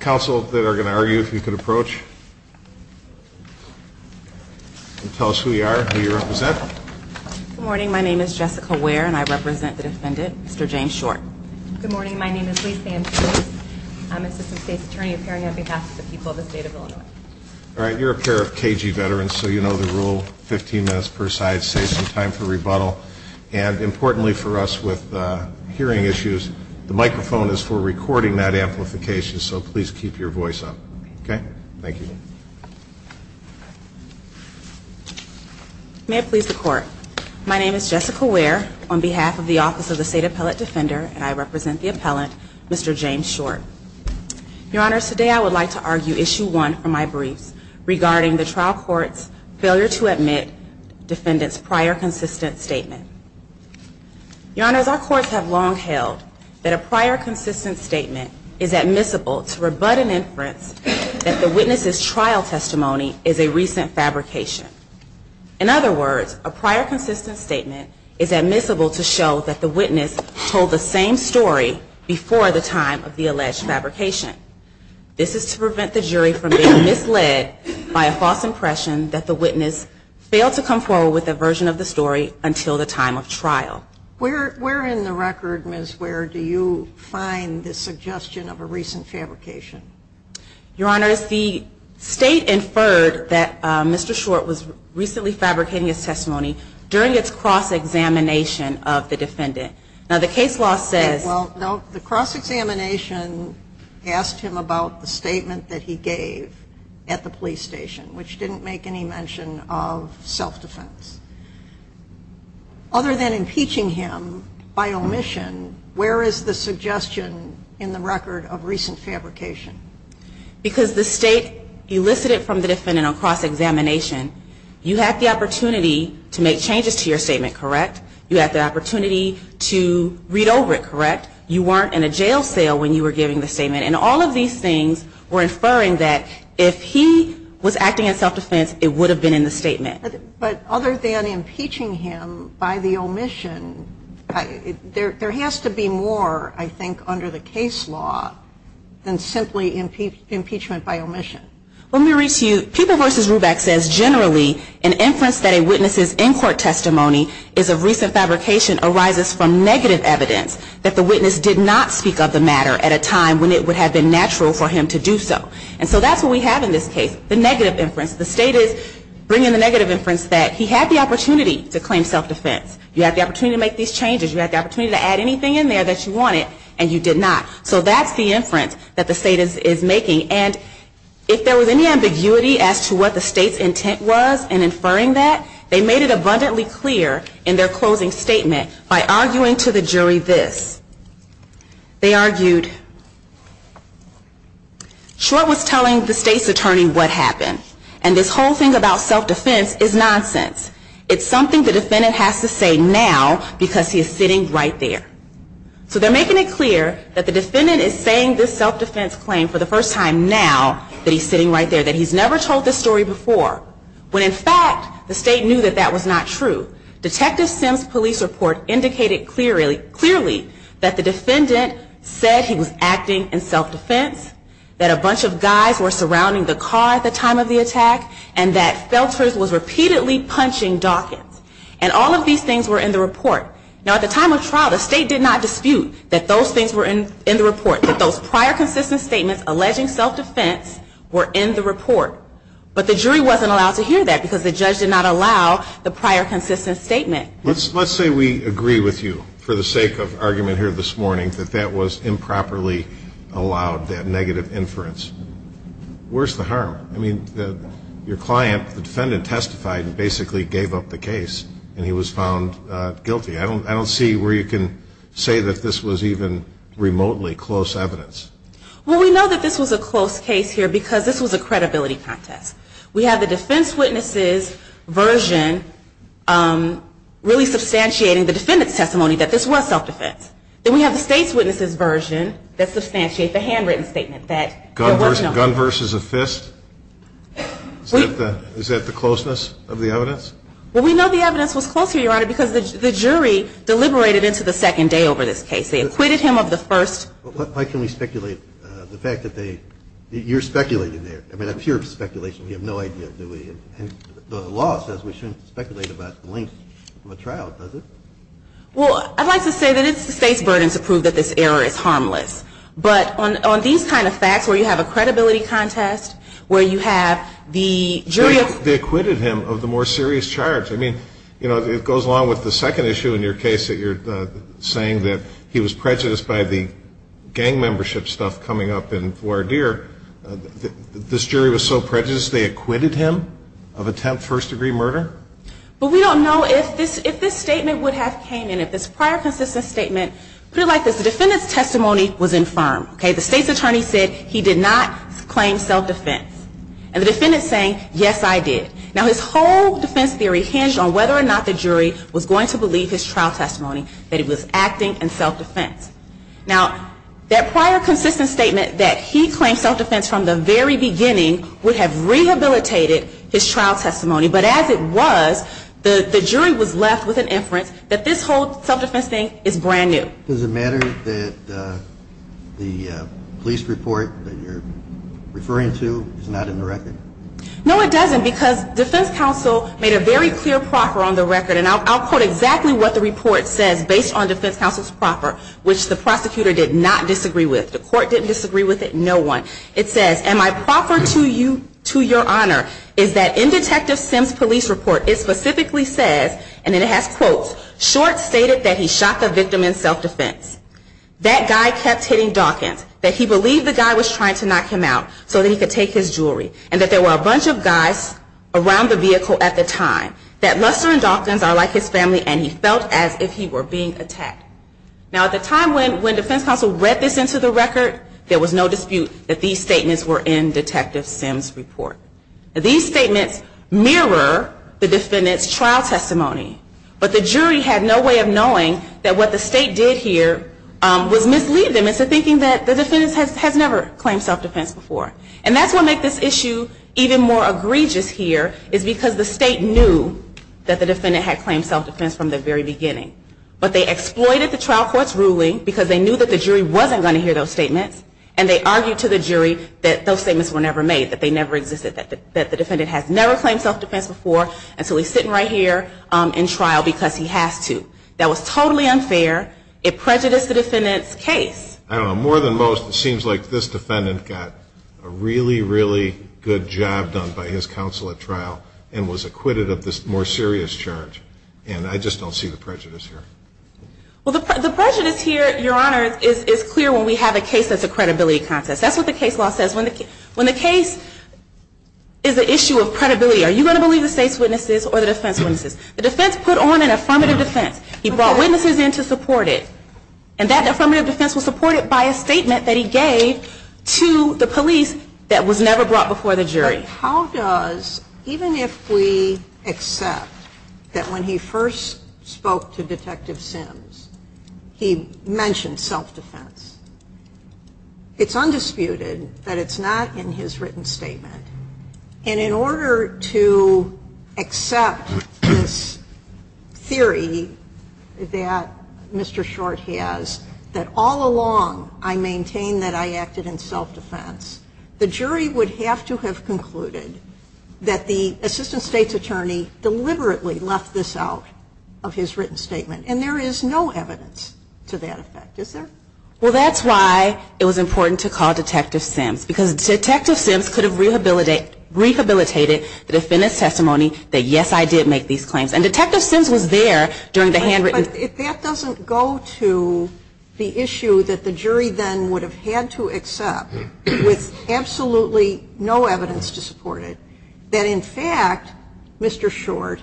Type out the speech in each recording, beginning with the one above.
Council that are going to argue, if you could approach and tell us who you are, who you represent. Good morning. My name is Jessica Ware and I represent the defendant, Mr. James Short. Good morning. My name is Lisa Ambrose. I'm Assistant State's Attorney appearing on behalf of the people of the state of Illinois. All right. You're a pair of KG veterans, so you know the rule, 15 minutes per side, save some time for rebuttal. And importantly for us with hearing issues, the microphone is for recording that amplification, so please keep your voice up. Okay? Thank you. May it please the Court. My name is Jessica Ware on behalf of the Office of the State Appellate Defender, and I represent the appellant, Mr. James Short. Your Honors, today I would like to argue Issue 1 from my briefs regarding the trial court's failure to admit defendant's prior consistent statement. Your Honors, our courts have long held that a prior consistent statement is admissible to rebut an inference that the witness's trial testimony is a recent fabrication. In other words, a prior consistent statement is admissible to show that the witness told the same story before the time of the alleged fabrication. This is to prevent the jury from being misled by a false impression that the witness failed to come forward with a version of the story until the time of trial. Where in the record, Ms. Ware, do you find the suggestion of a recent fabrication? Your Honors, the State inferred that Mr. Short was recently fabricating his testimony during its cross-examination of the defendant. Now, the case law says the cross-examination asked him about the statement that he gave at the police station, which didn't make any mention of self-defense. Other than impeaching him by omission, where is the suggestion in the record of recent fabrication? Because the State elicited from the defendant on cross-examination, you had the opportunity to make changes to your statement, correct? You had the opportunity to read over it, correct? You weren't in a jail cell when you were giving the statement. And all of these things were inferring that if he was acting in self-defense, it would have been in the statement. But other than impeaching him by the omission, there has to be more, I think, under the case law than simply impeachment by omission. Let me read to you. People v. Ruback says, generally, an inference that a witness's in-court testimony is of recent fabrication arises from negative evidence that the witness did not speak of the matter at a time when it would have been natural for him to do so. And so that's what we have in this case. The negative inference. The State is bringing the negative inference that he had the opportunity to claim self-defense. You had the opportunity to make these changes. You had the opportunity to add anything in there that you wanted, and you did not. So that's the inference that the State is making. And if there was any ambiguity as to what the State's intent was in inferring that, they made it abundantly clear in their closing statement by arguing to the jury this. They argued, Schwartz was telling the State's attorney what happened. And this whole thing about self-defense is nonsense. It's something the defendant has to say now because he is sitting right there. So they're making it clear that the defendant is saying this self-defense claim for the first time now that he's sitting right there, that he's never told this story before, when, in fact, the State knew that that was not true. Detective Simms' police report indicated clearly that the defendant said he was acting in self-defense, that a bunch of guys were surrounding the car at the time of the attack, and that Felters was repeatedly punching Dawkins. And all of these things were in the report. Now, at the time of trial, the State did not dispute that those things were in the report, that those prior consistent statements alleging self-defense were in the report. But the jury wasn't allowed to hear that because the judge did not allow the prior consistent statement. Let's say we agree with you, for the sake of argument here this morning, that that was improperly allowed, that negative inference. Where's the harm? I mean, your client, the defendant testified and basically gave up the case, and he was found guilty. I don't see where you can say that this was even remotely close evidence. Well, we know that this was a close case here because this was a credibility contest. We have the defense witness's version really substantiating the defendant's testimony that this was self-defense. Then we have the State's witness's version that substantiates the handwritten statement that there was no harm. Gun versus a fist? Is that the closeness of the evidence? Well, we know the evidence was close here, Your Honor, because the jury deliberated into the second day over this case. They acquitted him of the first. But why can we speculate the fact that they ñ you're speculating there. I mean, that's pure speculation. We have no idea, do we? And the law says we shouldn't speculate about the length of a trial, does it? Well, I'd like to say that it's the State's burden to prove that this error is harmless. But on these kind of facts where you have a credibility contest, where you have the jury of ñ They acquitted him of the more serious charge. I mean, you know, it goes along with the second issue in your case that you're saying that he was prejudiced by the gang membership stuff coming up in Voir D'Ire. This jury was so prejudiced they acquitted him of attempt first-degree murder? Well, we don't know if this statement would have came in. If this prior consistent statement ñ put it like this. The defendant's testimony was infirm, okay? The State's attorney said he did not claim self-defense. And the defendant's saying, yes, I did. Now, his whole defense theory hinged on whether or not the jury was going to believe his trial testimony, that he was acting in self-defense. Now, that prior consistent statement that he claimed self-defense from the very beginning would have rehabilitated his trial testimony. But as it was, the jury was left with an inference that this whole self-defense thing is brand new. Does it matter that the police report that you're referring to is not in the record? No, it doesn't, because defense counsel made a very clear proffer on the record. And I'll quote exactly what the report says based on defense counsel's proffer, which the prosecutor did not disagree with. The court didn't disagree with it. No one. It says, and my proffer to you, to your honor, is that in Detective Sims' police report, it specifically says, and then it has quotes, short stated that he shot the victim in self-defense. That guy kept hitting Dawkins. That he believed the guy was trying to knock him out so that he could take his jewelry. And that there were a bunch of guys around the vehicle at the time. That Lester and Dawkins are like his family, and he felt as if he were being attacked. Now, at the time when defense counsel read this into the record, there was no dispute that these statements were in Detective Sims' report. These statements mirror the defendant's trial testimony. But the jury had no way of knowing that what the state did here was mislead them into thinking that the defendant has never claimed self-defense before. And that's what made this issue even more egregious here, is because the state knew that the defendant had claimed self-defense from the very beginning. But they exploited the trial court's ruling because they knew that the jury wasn't going to hear those statements. And they argued to the jury that those statements were never made. That they never existed. That the defendant has never claimed self-defense before. And so he's sitting right here in trial because he has to. That was totally unfair. It prejudiced the defendant's case. I don't know. More than most, it seems like this defendant got a really, really good job done by his counsel at trial. And was acquitted of this more serious charge. And I just don't see the prejudice here. Well, the prejudice here, Your Honor, is clear when we have a case that's a credibility contest. That's what the case law says. When the case is an issue of credibility, are you going to believe the state's witnesses or the defense's witnesses? The defense put on an affirmative defense. He brought witnesses in to support it. And that affirmative defense was supported by a statement that he gave to the police that was never brought before the jury. But how does, even if we accept that when he first spoke to Detective Sims, he mentioned self-defense. It's undisputed that it's not in his written statement. And in order to accept this theory that Mr. Short has, that all along I maintained that I acted in self-defense, the jury would have to have concluded that the assistant state's attorney deliberately left this out of his written statement. And there is no evidence to that effect, is there? Well, that's why it was important to call Detective Sims. Because Detective Sims could have rehabilitated the defendant's testimony that, yes, I did make these claims. And Detective Sims was there during the handwritten. But if that doesn't go to the issue that the jury then would have had to accept with absolutely no evidence to support it, that, in fact, Mr. Short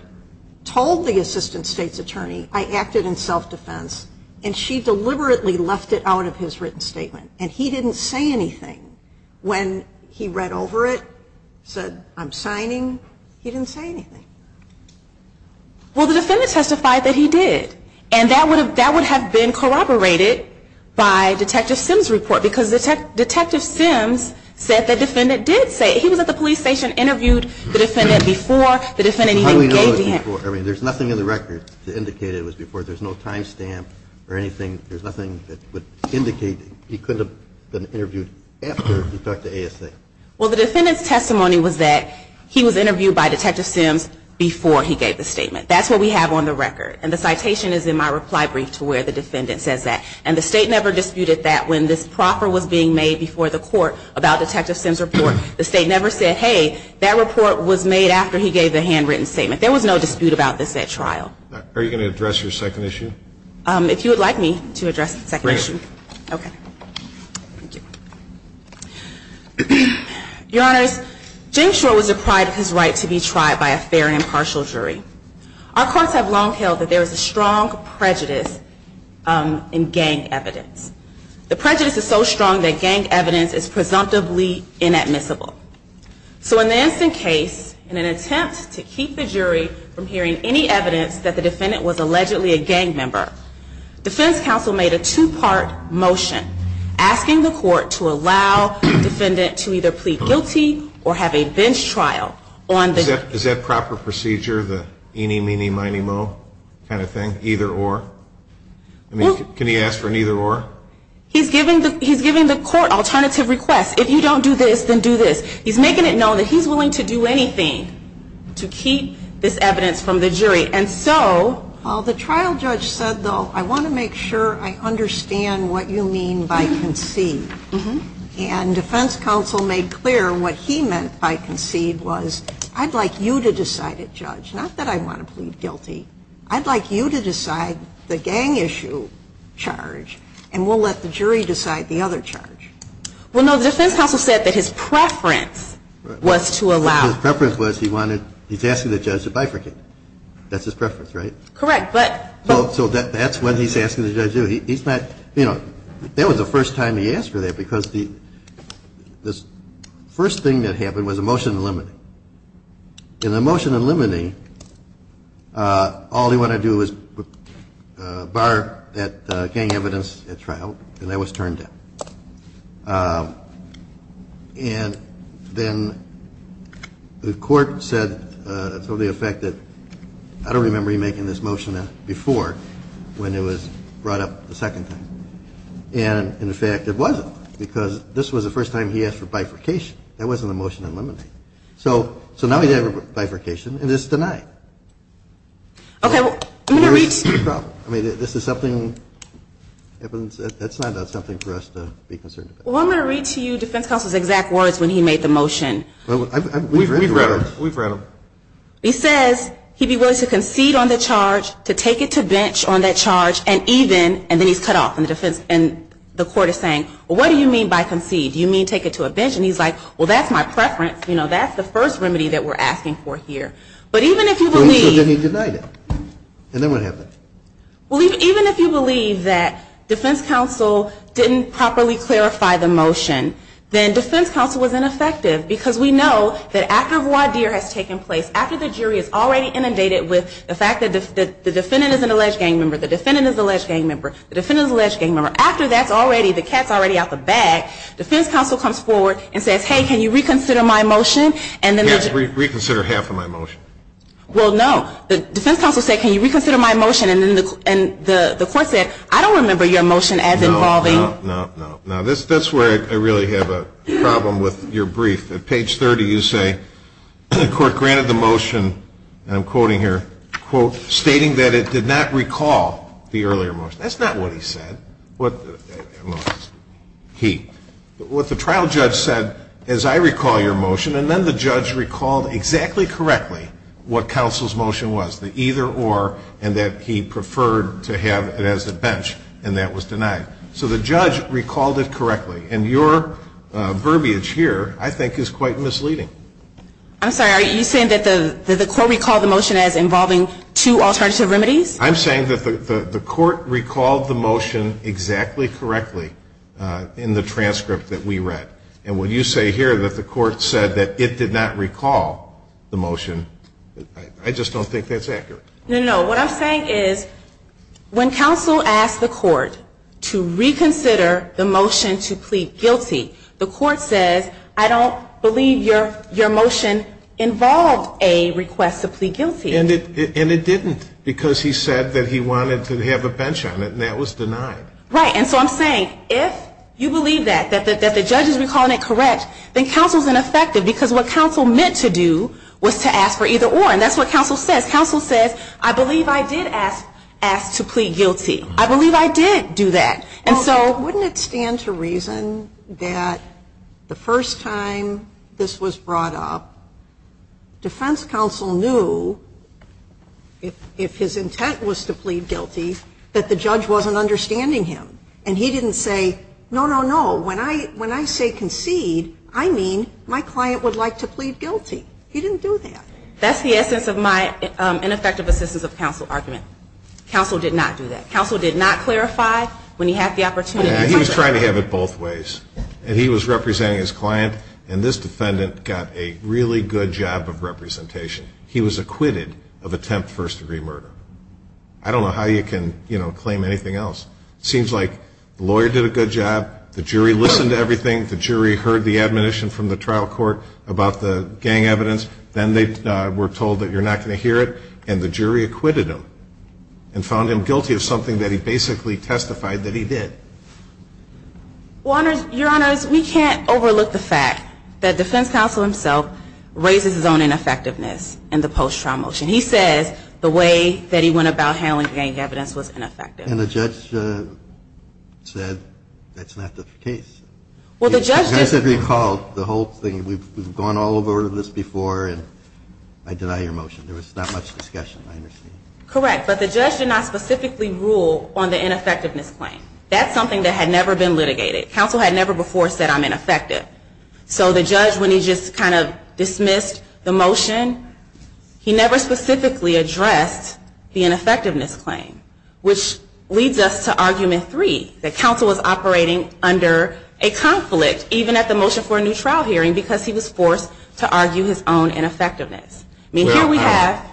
told the assistant state's attorney, I acted in self-defense, and she deliberately left it out of his written statement. And he didn't say anything when he read over it, said, I'm signing. He didn't say anything. Well, the defendant testified that he did. And that would have been corroborated by Detective Sims' report. Because Detective Sims said that the defendant did say it. He was at the police station, interviewed the defendant before the defendant even gave the hand. I mean, there's nothing in the record to indicate it was before. There's no time stamp or anything. There's nothing that would indicate he couldn't have been interviewed after he talked to ASA. Well, the defendant's testimony was that he was interviewed by Detective Sims before he gave the statement. That's what we have on the record. And the citation is in my reply brief to where the defendant says that. And the state never disputed that when this proffer was being made before the court about Detective Sims' report. The state never said, hey, that report was made after he gave the handwritten statement. There was no dispute about this at trial. Are you going to address your second issue? If you would like me to address the second issue. Great. Okay. Thank you. Your Honors, James Short was deprived of his right to be tried by a fair and impartial jury. Our courts have long held that there is a strong prejudice in gang evidence. The prejudice is so strong that gang evidence is presumptively inadmissible. So in the instant case, in an attempt to keep the jury from hearing any evidence that the defendant was allegedly a gang member, defense counsel made a two-part motion asking the court to allow the defendant to either plead guilty or have a bench trial. Is that proper procedure, the eeny, meeny, miny, moe kind of thing, either or? Can he ask for an either or? He's giving the court alternative requests. If you don't do this, then do this. He's making it known that he's willing to do anything to keep this evidence from the jury. And so the trial judge said, though, I want to make sure I understand what you mean by concede. And defense counsel made clear what he meant by concede was I'd like you to decide it, judge, not that I want to plead guilty. I'd like you to decide the gang issue charge, and we'll let the jury decide the other charge. Well, no, the defense counsel said that his preference was to allow. His preference was he wanted, he's asking the judge to bifurcate. That's his preference, right? Correct, but. So that's what he's asking the judge to do. He's not, you know, that was the first time he asked for that because the first thing that happened was a motion eliminating. In the motion eliminating, all he wanted to do was bar that gang evidence at trial, and that was turned down. And then the court said, to the effect that I don't remember you making this motion before when it was brought up the second time. And, in fact, it wasn't because this was the first time he asked for bifurcation. That wasn't a motion to eliminate. So now he's having bifurcation, and it's denied. Okay, well, I'm going to reach. I mean, this is something that's not something for us to be concerned about. Well, I'm going to read to you defense counsel's exact words when he made the motion. We've read them. We've read them. He says he'd be willing to concede on the charge, to take it to bench on that charge, and even, and then he's cut off. And the defense, and the court is saying, well, what do you mean by concede? Do you mean take it to a bench? And he's like, well, that's my preference. You know, that's the first remedy that we're asking for here. But even if you believe. So then he denied it. And then what happened? Well, even if you believe that defense counsel didn't properly clarify the motion, then defense counsel was ineffective because we know that after voir dire has taken place, after the jury has already inundated with the fact that the defendant is an alleged gang member, the defendant is an alleged gang member, the defendant is an alleged gang member, after that's already, the cat's already out the bag, defense counsel comes forward and says, hey, can you reconsider my motion, and then. Yes, reconsider half of my motion. Well, no. The defense counsel said, can you reconsider my motion, and then the court said, I don't remember your motion as involving. No, no, no, no. Now, that's where I really have a problem with your brief. At page 30, you say the court granted the motion, and I'm quoting here, quote, stating that it did not recall the earlier motion. That's not what he said. He. What the trial judge said is I recall your motion, and then the judge recalled exactly correctly what counsel's motion was, the either or, and that he preferred to have it as a bench, and that was denied. So the judge recalled it correctly, and your verbiage here I think is quite misleading. I'm sorry. Are you saying that the court recalled the motion as involving two alternative remedies? I'm saying that the court recalled the motion exactly correctly in the transcript that we read, and when you say here that the court said that it did not recall the motion, I just don't think that's accurate. No, no, no. What I'm saying is when counsel asked the court to reconsider the motion to plead guilty, the court says I don't believe your motion involved a request to plead guilty. And it didn't, because he said that he wanted to have a bench on it, and that was denied. Right. And so I'm saying if you believe that, that the judge is recalling it correct, then counsel's ineffective, because what counsel meant to do was to ask for either or, and that's what counsel says. Counsel says I believe I did ask to plead guilty. I believe I did do that. And so wouldn't it stand to reason that the first time this was brought up, defense counsel knew if his intent was to plead guilty that the judge wasn't understanding him. And he didn't say, no, no, no, when I say concede, I mean my client would like to plead guilty. He didn't do that. That's the essence of my ineffective assistance of counsel argument. Counsel did not do that. Counsel did not clarify when he had the opportunity. He was trying to have it both ways. And he was representing his client, and this defendant got a really good job of representation. He was acquitted of attempt first-degree murder. I don't know how you can claim anything else. It seems like the lawyer did a good job, the jury listened to everything, the jury heard the admonition from the trial court about the gang evidence, then they were told that you're not going to hear it, and the jury acquitted him and found him guilty of something that he basically testified that he did. Your Honors, we can't overlook the fact that defense counsel himself raises his own ineffectiveness in the post-trial motion. He says the way that he went about handling gang evidence was ineffective. And the judge said that's not the case. Well, the judge did. The judge said, recall, the whole thing, we've gone all over this before, and I deny your motion. There was not much discussion, I understand. Correct, but the judge did not specifically rule on the ineffectiveness claim. That's something that had never been litigated. Counsel had never before said I'm ineffective. So the judge, when he just kind of dismissed the motion, he never specifically addressed the ineffectiveness claim, which leads us to argument three, that counsel was operating under a conflict, even at the motion for a new trial hearing, because he was forced to argue his own ineffectiveness. I mean, here we have ‑‑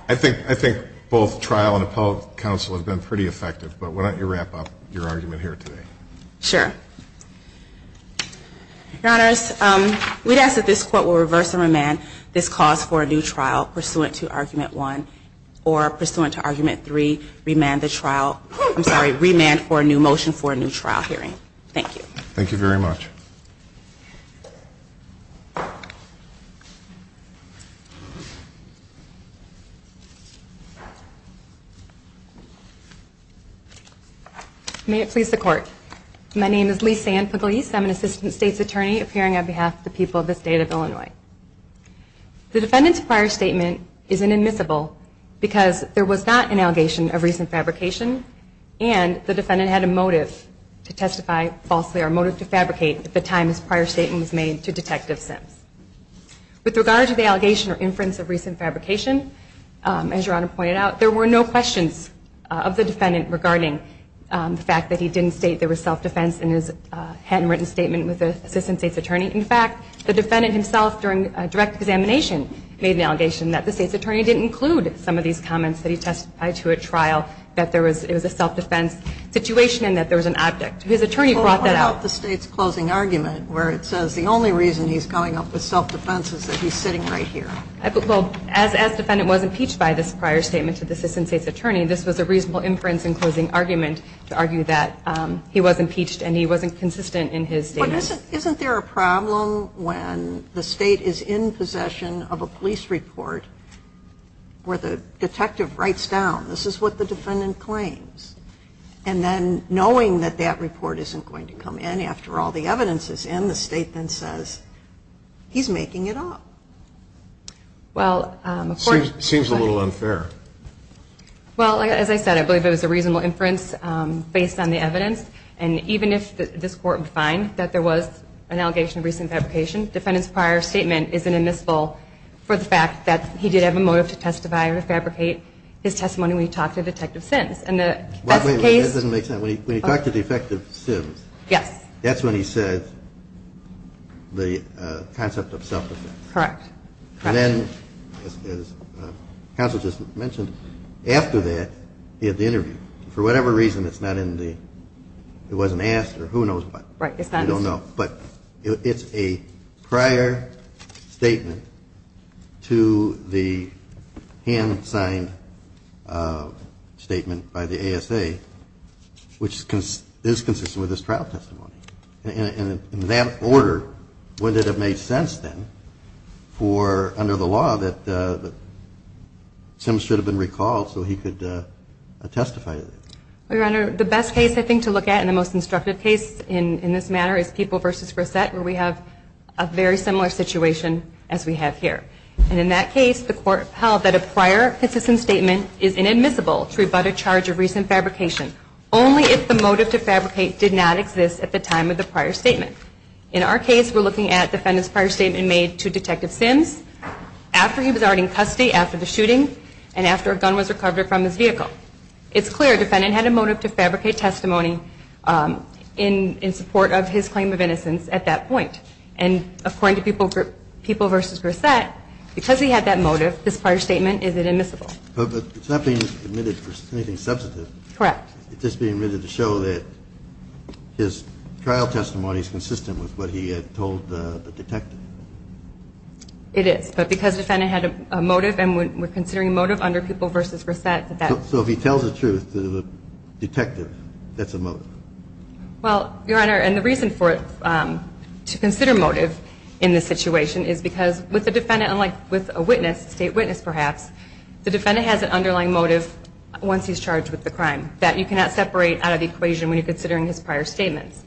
I think both trial and appellate counsel have been pretty effective, but why don't you wrap up your argument here today. Sure. Your Honors, we ask that this Court will reverse and remand this cause for a new trial pursuant to argument one, or pursuant to argument three, remand the trial, I'm sorry, remand for a new motion for a new trial hearing. Thank you. Thank you very much. May it please the Court. My name is Lee-San Pugliese. I'm an Assistant State's Attorney appearing on behalf of the people of the State of Illinois. The defendant's prior statement is inadmissible because there was not an allegation of recent fabrication and the defendant had a motive to testify falsely, or a motive to fabricate at the time his prior statement was made to Detective Sims. With regard to the allegation or inference of recent fabrication, as Your Honor pointed out, there were no questions of the defendant regarding the fact that he didn't state there was self-defense in his handwritten statement with the Assistant State's Attorney. In fact, the defendant himself, during a direct examination, made an allegation that the State's Attorney didn't include some of these comments that he testified to at trial, that it was a self-defense situation and that there was an object. His attorney brought that up. What about the State's closing argument where it says the only reason he's coming up with self-defense is that he's sitting right here? Well, as defendant was impeached by this prior statement to the Assistant State's Attorney, this was a reasonable inference in closing argument to argue that he was impeached and he wasn't consistent in his statement. But isn't there a problem when the State is in possession of a police report where the detective writes down, this is what the defendant claims, and then knowing that that report isn't going to come in after all the evidence is in, then the State then says, he's making it up. Seems a little unfair. Well, as I said, I believe it was a reasonable inference based on the evidence. And even if this Court would find that there was an allegation of recent fabrication, the defendant's prior statement isn't admissible for the fact that he did have a motive to testify or fabricate his testimony when he talked to Detective Sims. Wait a minute. That doesn't make sense. When he talked to Detective Sims. Yes. That's when he said the concept of self-defense. Correct. Correct. Then, as counsel just mentioned, after that, he had the interview. For whatever reason, it's not in the, it wasn't asked or who knows what. Right. I don't know. But it's a prior statement to the hand signed statement by the ASA, which is consistent with his trial testimony. And in that order, when did it make sense then for, under the law, that Sims should have been recalled so he could testify to that? Your Honor, the best case I think to look at and the most instructive case in this matter is Peoples v. Grissett, where we have a very similar situation as we have here. And in that case, the Court held that a prior consistent statement is inadmissible to rebut a charge of recent fabrication, only if the motive to fabricate did not exist at the time of the prior statement. In our case, we're looking at the defendant's prior statement made to Detective Sims after he was already in custody after the shooting and after a gun was recovered from his vehicle. It's clear the defendant had a motive to fabricate testimony in support of his claim of innocence at that point. And according to Peoples v. Grissett, because he had that motive, his prior statement is inadmissible. But it's not being admitted for anything substantive. Correct. It's just being written to show that his trial testimony is consistent with what he had told the detective. It is, but because the defendant had a motive and we're considering motive under Peoples v. Grissett. So if he tells the truth to the detective, that's a motive? Well, Your Honor, and the reason for it to consider motive in this situation is because with a witness, state witness perhaps, the defendant has an underlying motive once he's charged with the crime that you cannot separate out of the equation when you're considering his prior statements.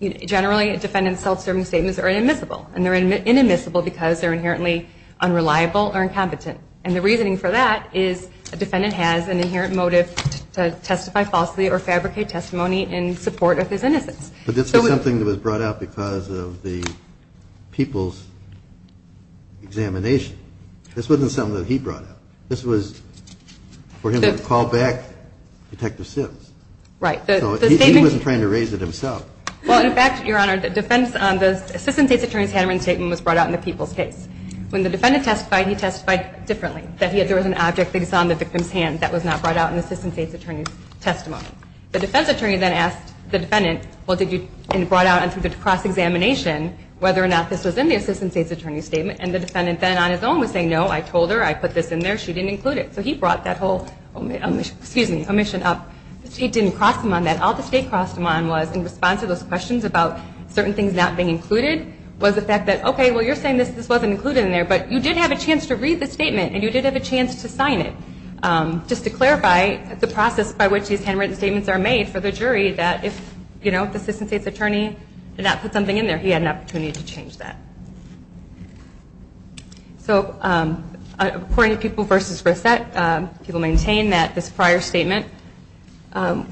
Generally, a defendant's self-serving statements are inadmissible and they're inadmissible because they're inherently unreliable or incompetent. And the reasoning for that is a defendant has an inherent motive to testify falsely or fabricate testimony in support of his innocence. But this was something that was brought out because of the Peoples examination. This wasn't something that he brought out. This was for him to call back Detective Sims. Right. So he wasn't trying to raise it himself. Well, in fact, Your Honor, the defense on the assistant state's attorney's handwriting statement was brought out in the Peoples case. When the defendant testified, he testified differently, that there was an object that he saw in the defendant's hand that was not brought out in the assistant state's attorney's testimony. The defense attorney then asked the defendant, well, did you, and brought out through the cross-examination whether or not this was in the assistant state's attorney's statement. And the defendant then on his own would say, no, I told her, I put this in there, she didn't include it. So he brought that whole omission up. The state didn't cross him on that. All the state crossed him on was in response to those questions about certain things not being included was the fact that, okay, well, you're saying this wasn't included in there, but you did have a chance to read the statement and you did have a chance to sign it. Just to clarify, it's a process by which these handwritten statements are made for the jury that if the assistant state's attorney did not put something in there, he had an opportunity to change that. So according to Peoples v. Reset, Peoples maintained that this prior statement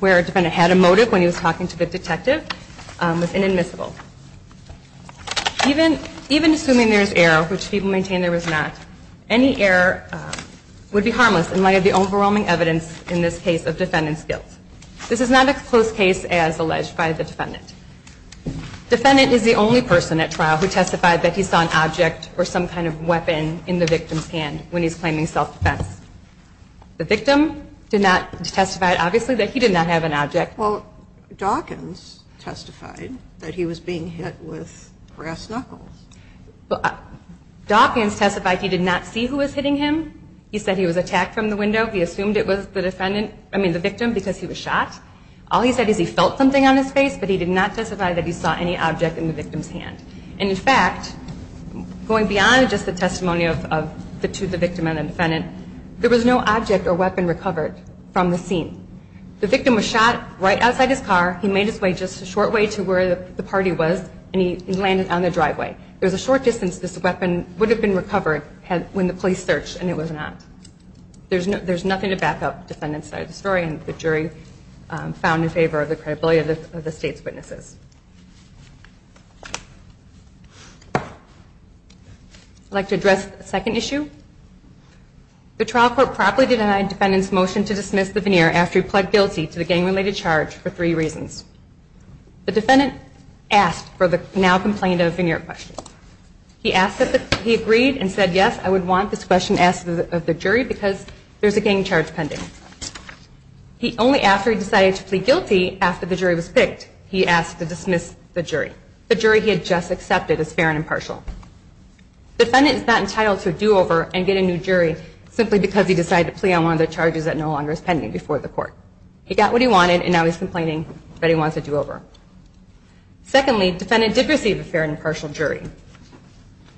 where a defendant had a motive when he was talking to the detective was inadmissible. Even assuming there is error, which Peoples maintained there was not, any error would be harmless in light of the overwhelming evidence in this case of defendant's guilt. This is not a close case as alleged by the defendant. Defendant is the only person at trial who testified that he saw an object or some kind of weapon in the victim's hand when he's claiming self-defense. The victim did not testify, obviously, that he did not have an object. Well, Dawkins testified that he was being hit with brass knuckles. Dawkins testified he did not see who was hitting him. He said he was attacked from the window. He assumed it was the victim because he was shot. All he said is he felt something on his face, but he did not testify that he saw any object in the victim's hand. And in fact, going beyond just the testimony to the victim and the defendant, there was no object or weapon recovered from the scene. The victim was shot right outside his car. He made his way just a short way to where the party was, and he landed on the driveway. It was a short distance. This weapon would have been recovered when the police searched, and it was not. There's nothing to back up the defendant's side of the story, and the jury found in favor of the credibility of the state's witnesses. I'd like to address a second issue. The trial court promptly denied defendant's motion to dismiss the veneer after he pled guilty to the gang-related charge for three reasons. The defendant asked for the now-complained-of veneer question. He agreed and said, yes, I would want this question asked of the jury because there's a gang charge pending. Only after he decided to plead guilty after the jury was picked, he asked to dismiss the jury, the jury he had just accepted as fair and impartial. The defendant is not entitled to a do-over and get a new jury simply because he decided to plead on one of the charges that no longer is pending before the court. He got what he wanted, and now he's complaining that he wants a do-over. Secondly, defendant did receive a fair and impartial jury.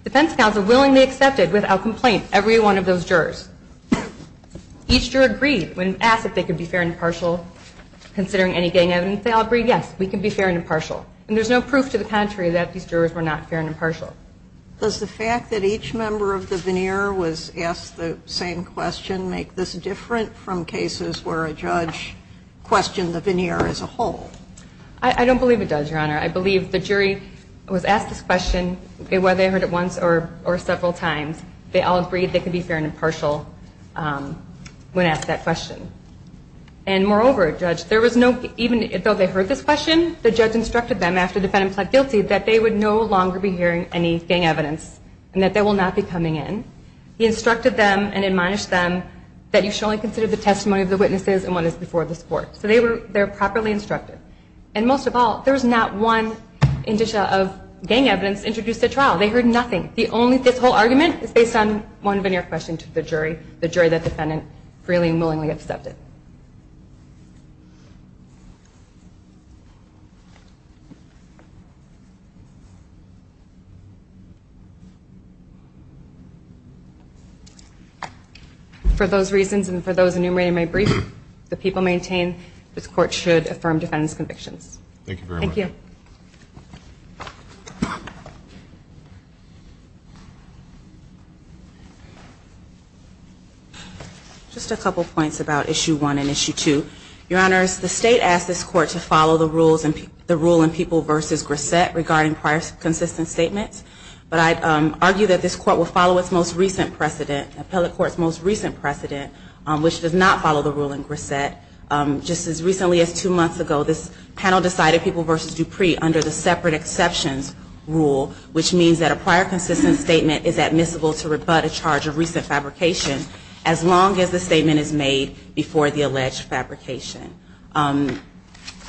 Defense counsel willingly accepted, without complaint, every one of those jurors. Each juror agreed when asked if they could be fair and impartial considering any gang evidence. They all agreed, yes, we can be fair and impartial, and there's no proof to the contrary that these jurors were not fair and impartial. Does the fact that each member of the veneer was asked the same question make this different from cases where a judge questioned the veneer as a whole? I don't believe it does, Your Honor. I believe the jury was asked this question, whether they heard it once or several times, they all agreed they could be fair and impartial when asked that question. And moreover, Judge, there was no, even though they heard this question, the judge instructed them after the defendant pled guilty that they would no longer be hearing any gang evidence and that they will not be coming in. He instructed them and admonished them that you should only consider the testimony of the witnesses and what is before this court. So they were properly instructed. And most of all, there was not one indicia of gang evidence introduced at trial. They heard nothing. This whole argument is based on one veneer question to the jury, the jury that the defendant freely and willingly accepted. For those reasons and for those enumerated in my brief, the people maintain this court should affirm defendant's convictions. Thank you very much. Thank you. Just a couple points about Issue 1 and Issue 2. Your Honors, the state asked this court to follow the rule in People v. Grissett regarding prior consistent statements, but I argue that this court will follow its most recent precedent, appellate court's most recent precedent, which does not follow the rule in Grissett. Just as recently as two months ago, this panel decided People v. Dupree under the separate exceptions rule, which means that a prior consistent statement is admissible to rebut a charge of recent fabrication as long as the statement is made before the alleged fabrication.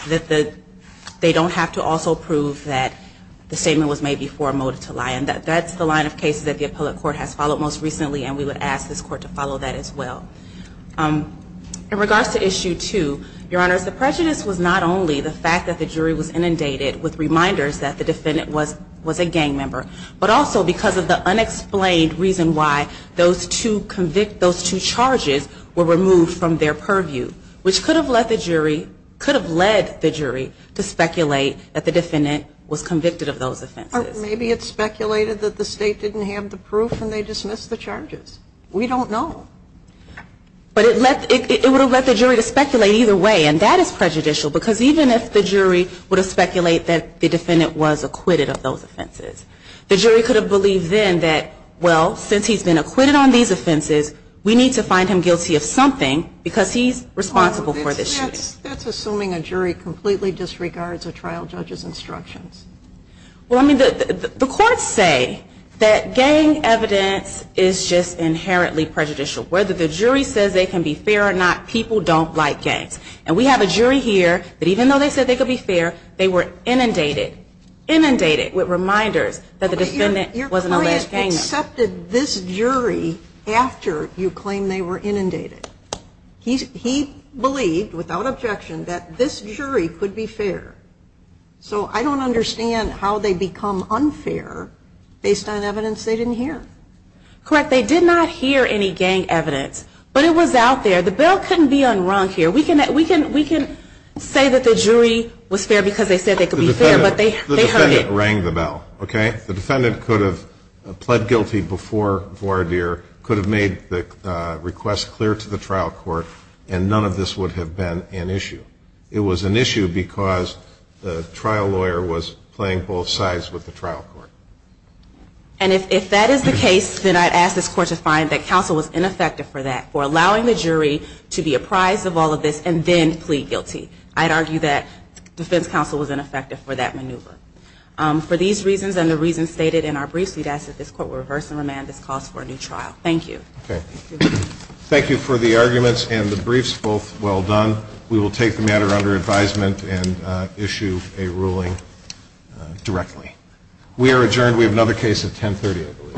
They don't have to also prove that the statement was made before a motive to lie, and that's the line of cases that the appellate court has followed most recently, and we would ask this court to follow that as well. In regards to Issue 2, Your Honors, the prejudice was not only the fact that the jury was inundated with reminders that the defendant was a gang member, but also because of the unexplained reason why those two charges were removed from their purview, which could have led the jury to speculate that the defendant was convicted of those offenses. Maybe it speculated that the State didn't have the proof and they dismissed the charges. We don't know. But it would have led the jury to speculate either way, and that is prejudicial because even if the jury would have speculated that the defendant was acquitted of those offenses, the jury could have believed then that, well, since he's been acquitted on these offenses, we need to find him guilty of something because he's responsible for this. That's assuming a jury completely disregards a trial judge's instructions. Well, I mean, the courts say that gang evidence is just inherently prejudicial. Whether the jury says they can be fair or not, people don't like gangs. And we have a jury here that even though they said they could be fair, they were inundated with reminders that the defendant was an alleged gang member. But your client accepted this jury after you claimed they were inundated. He believed, without objection, that this jury could be fair. So I don't understand how they become unfair based on evidence they didn't hear. Correct. They did not hear any gang evidence, but it was out there. The bell couldn't be unrung here. We can say that the jury was fair because they said they could be fair, but they heard it. The defendant rang the bell, okay? The defendant could have pled guilty before voir dire, could have made the request clear to the trial court, and none of this would have been an issue. It was an issue because the trial lawyer was playing both sides with the trial court. And if that is the case, then I'd ask this Court to find that counsel was ineffective for that, for allowing the jury to be apprised of all of this and then plead guilty. I'd argue that defense counsel was ineffective for that maneuver. For these reasons and the reasons stated in our briefs, we'd ask that this Court would reverse and remand this cause for a new trial. Thank you. Okay. Thank you for the arguments and the briefs, both well done. We will take the matter under advisement and issue a ruling directly. We are adjourned. We have another case at 10.30, I believe.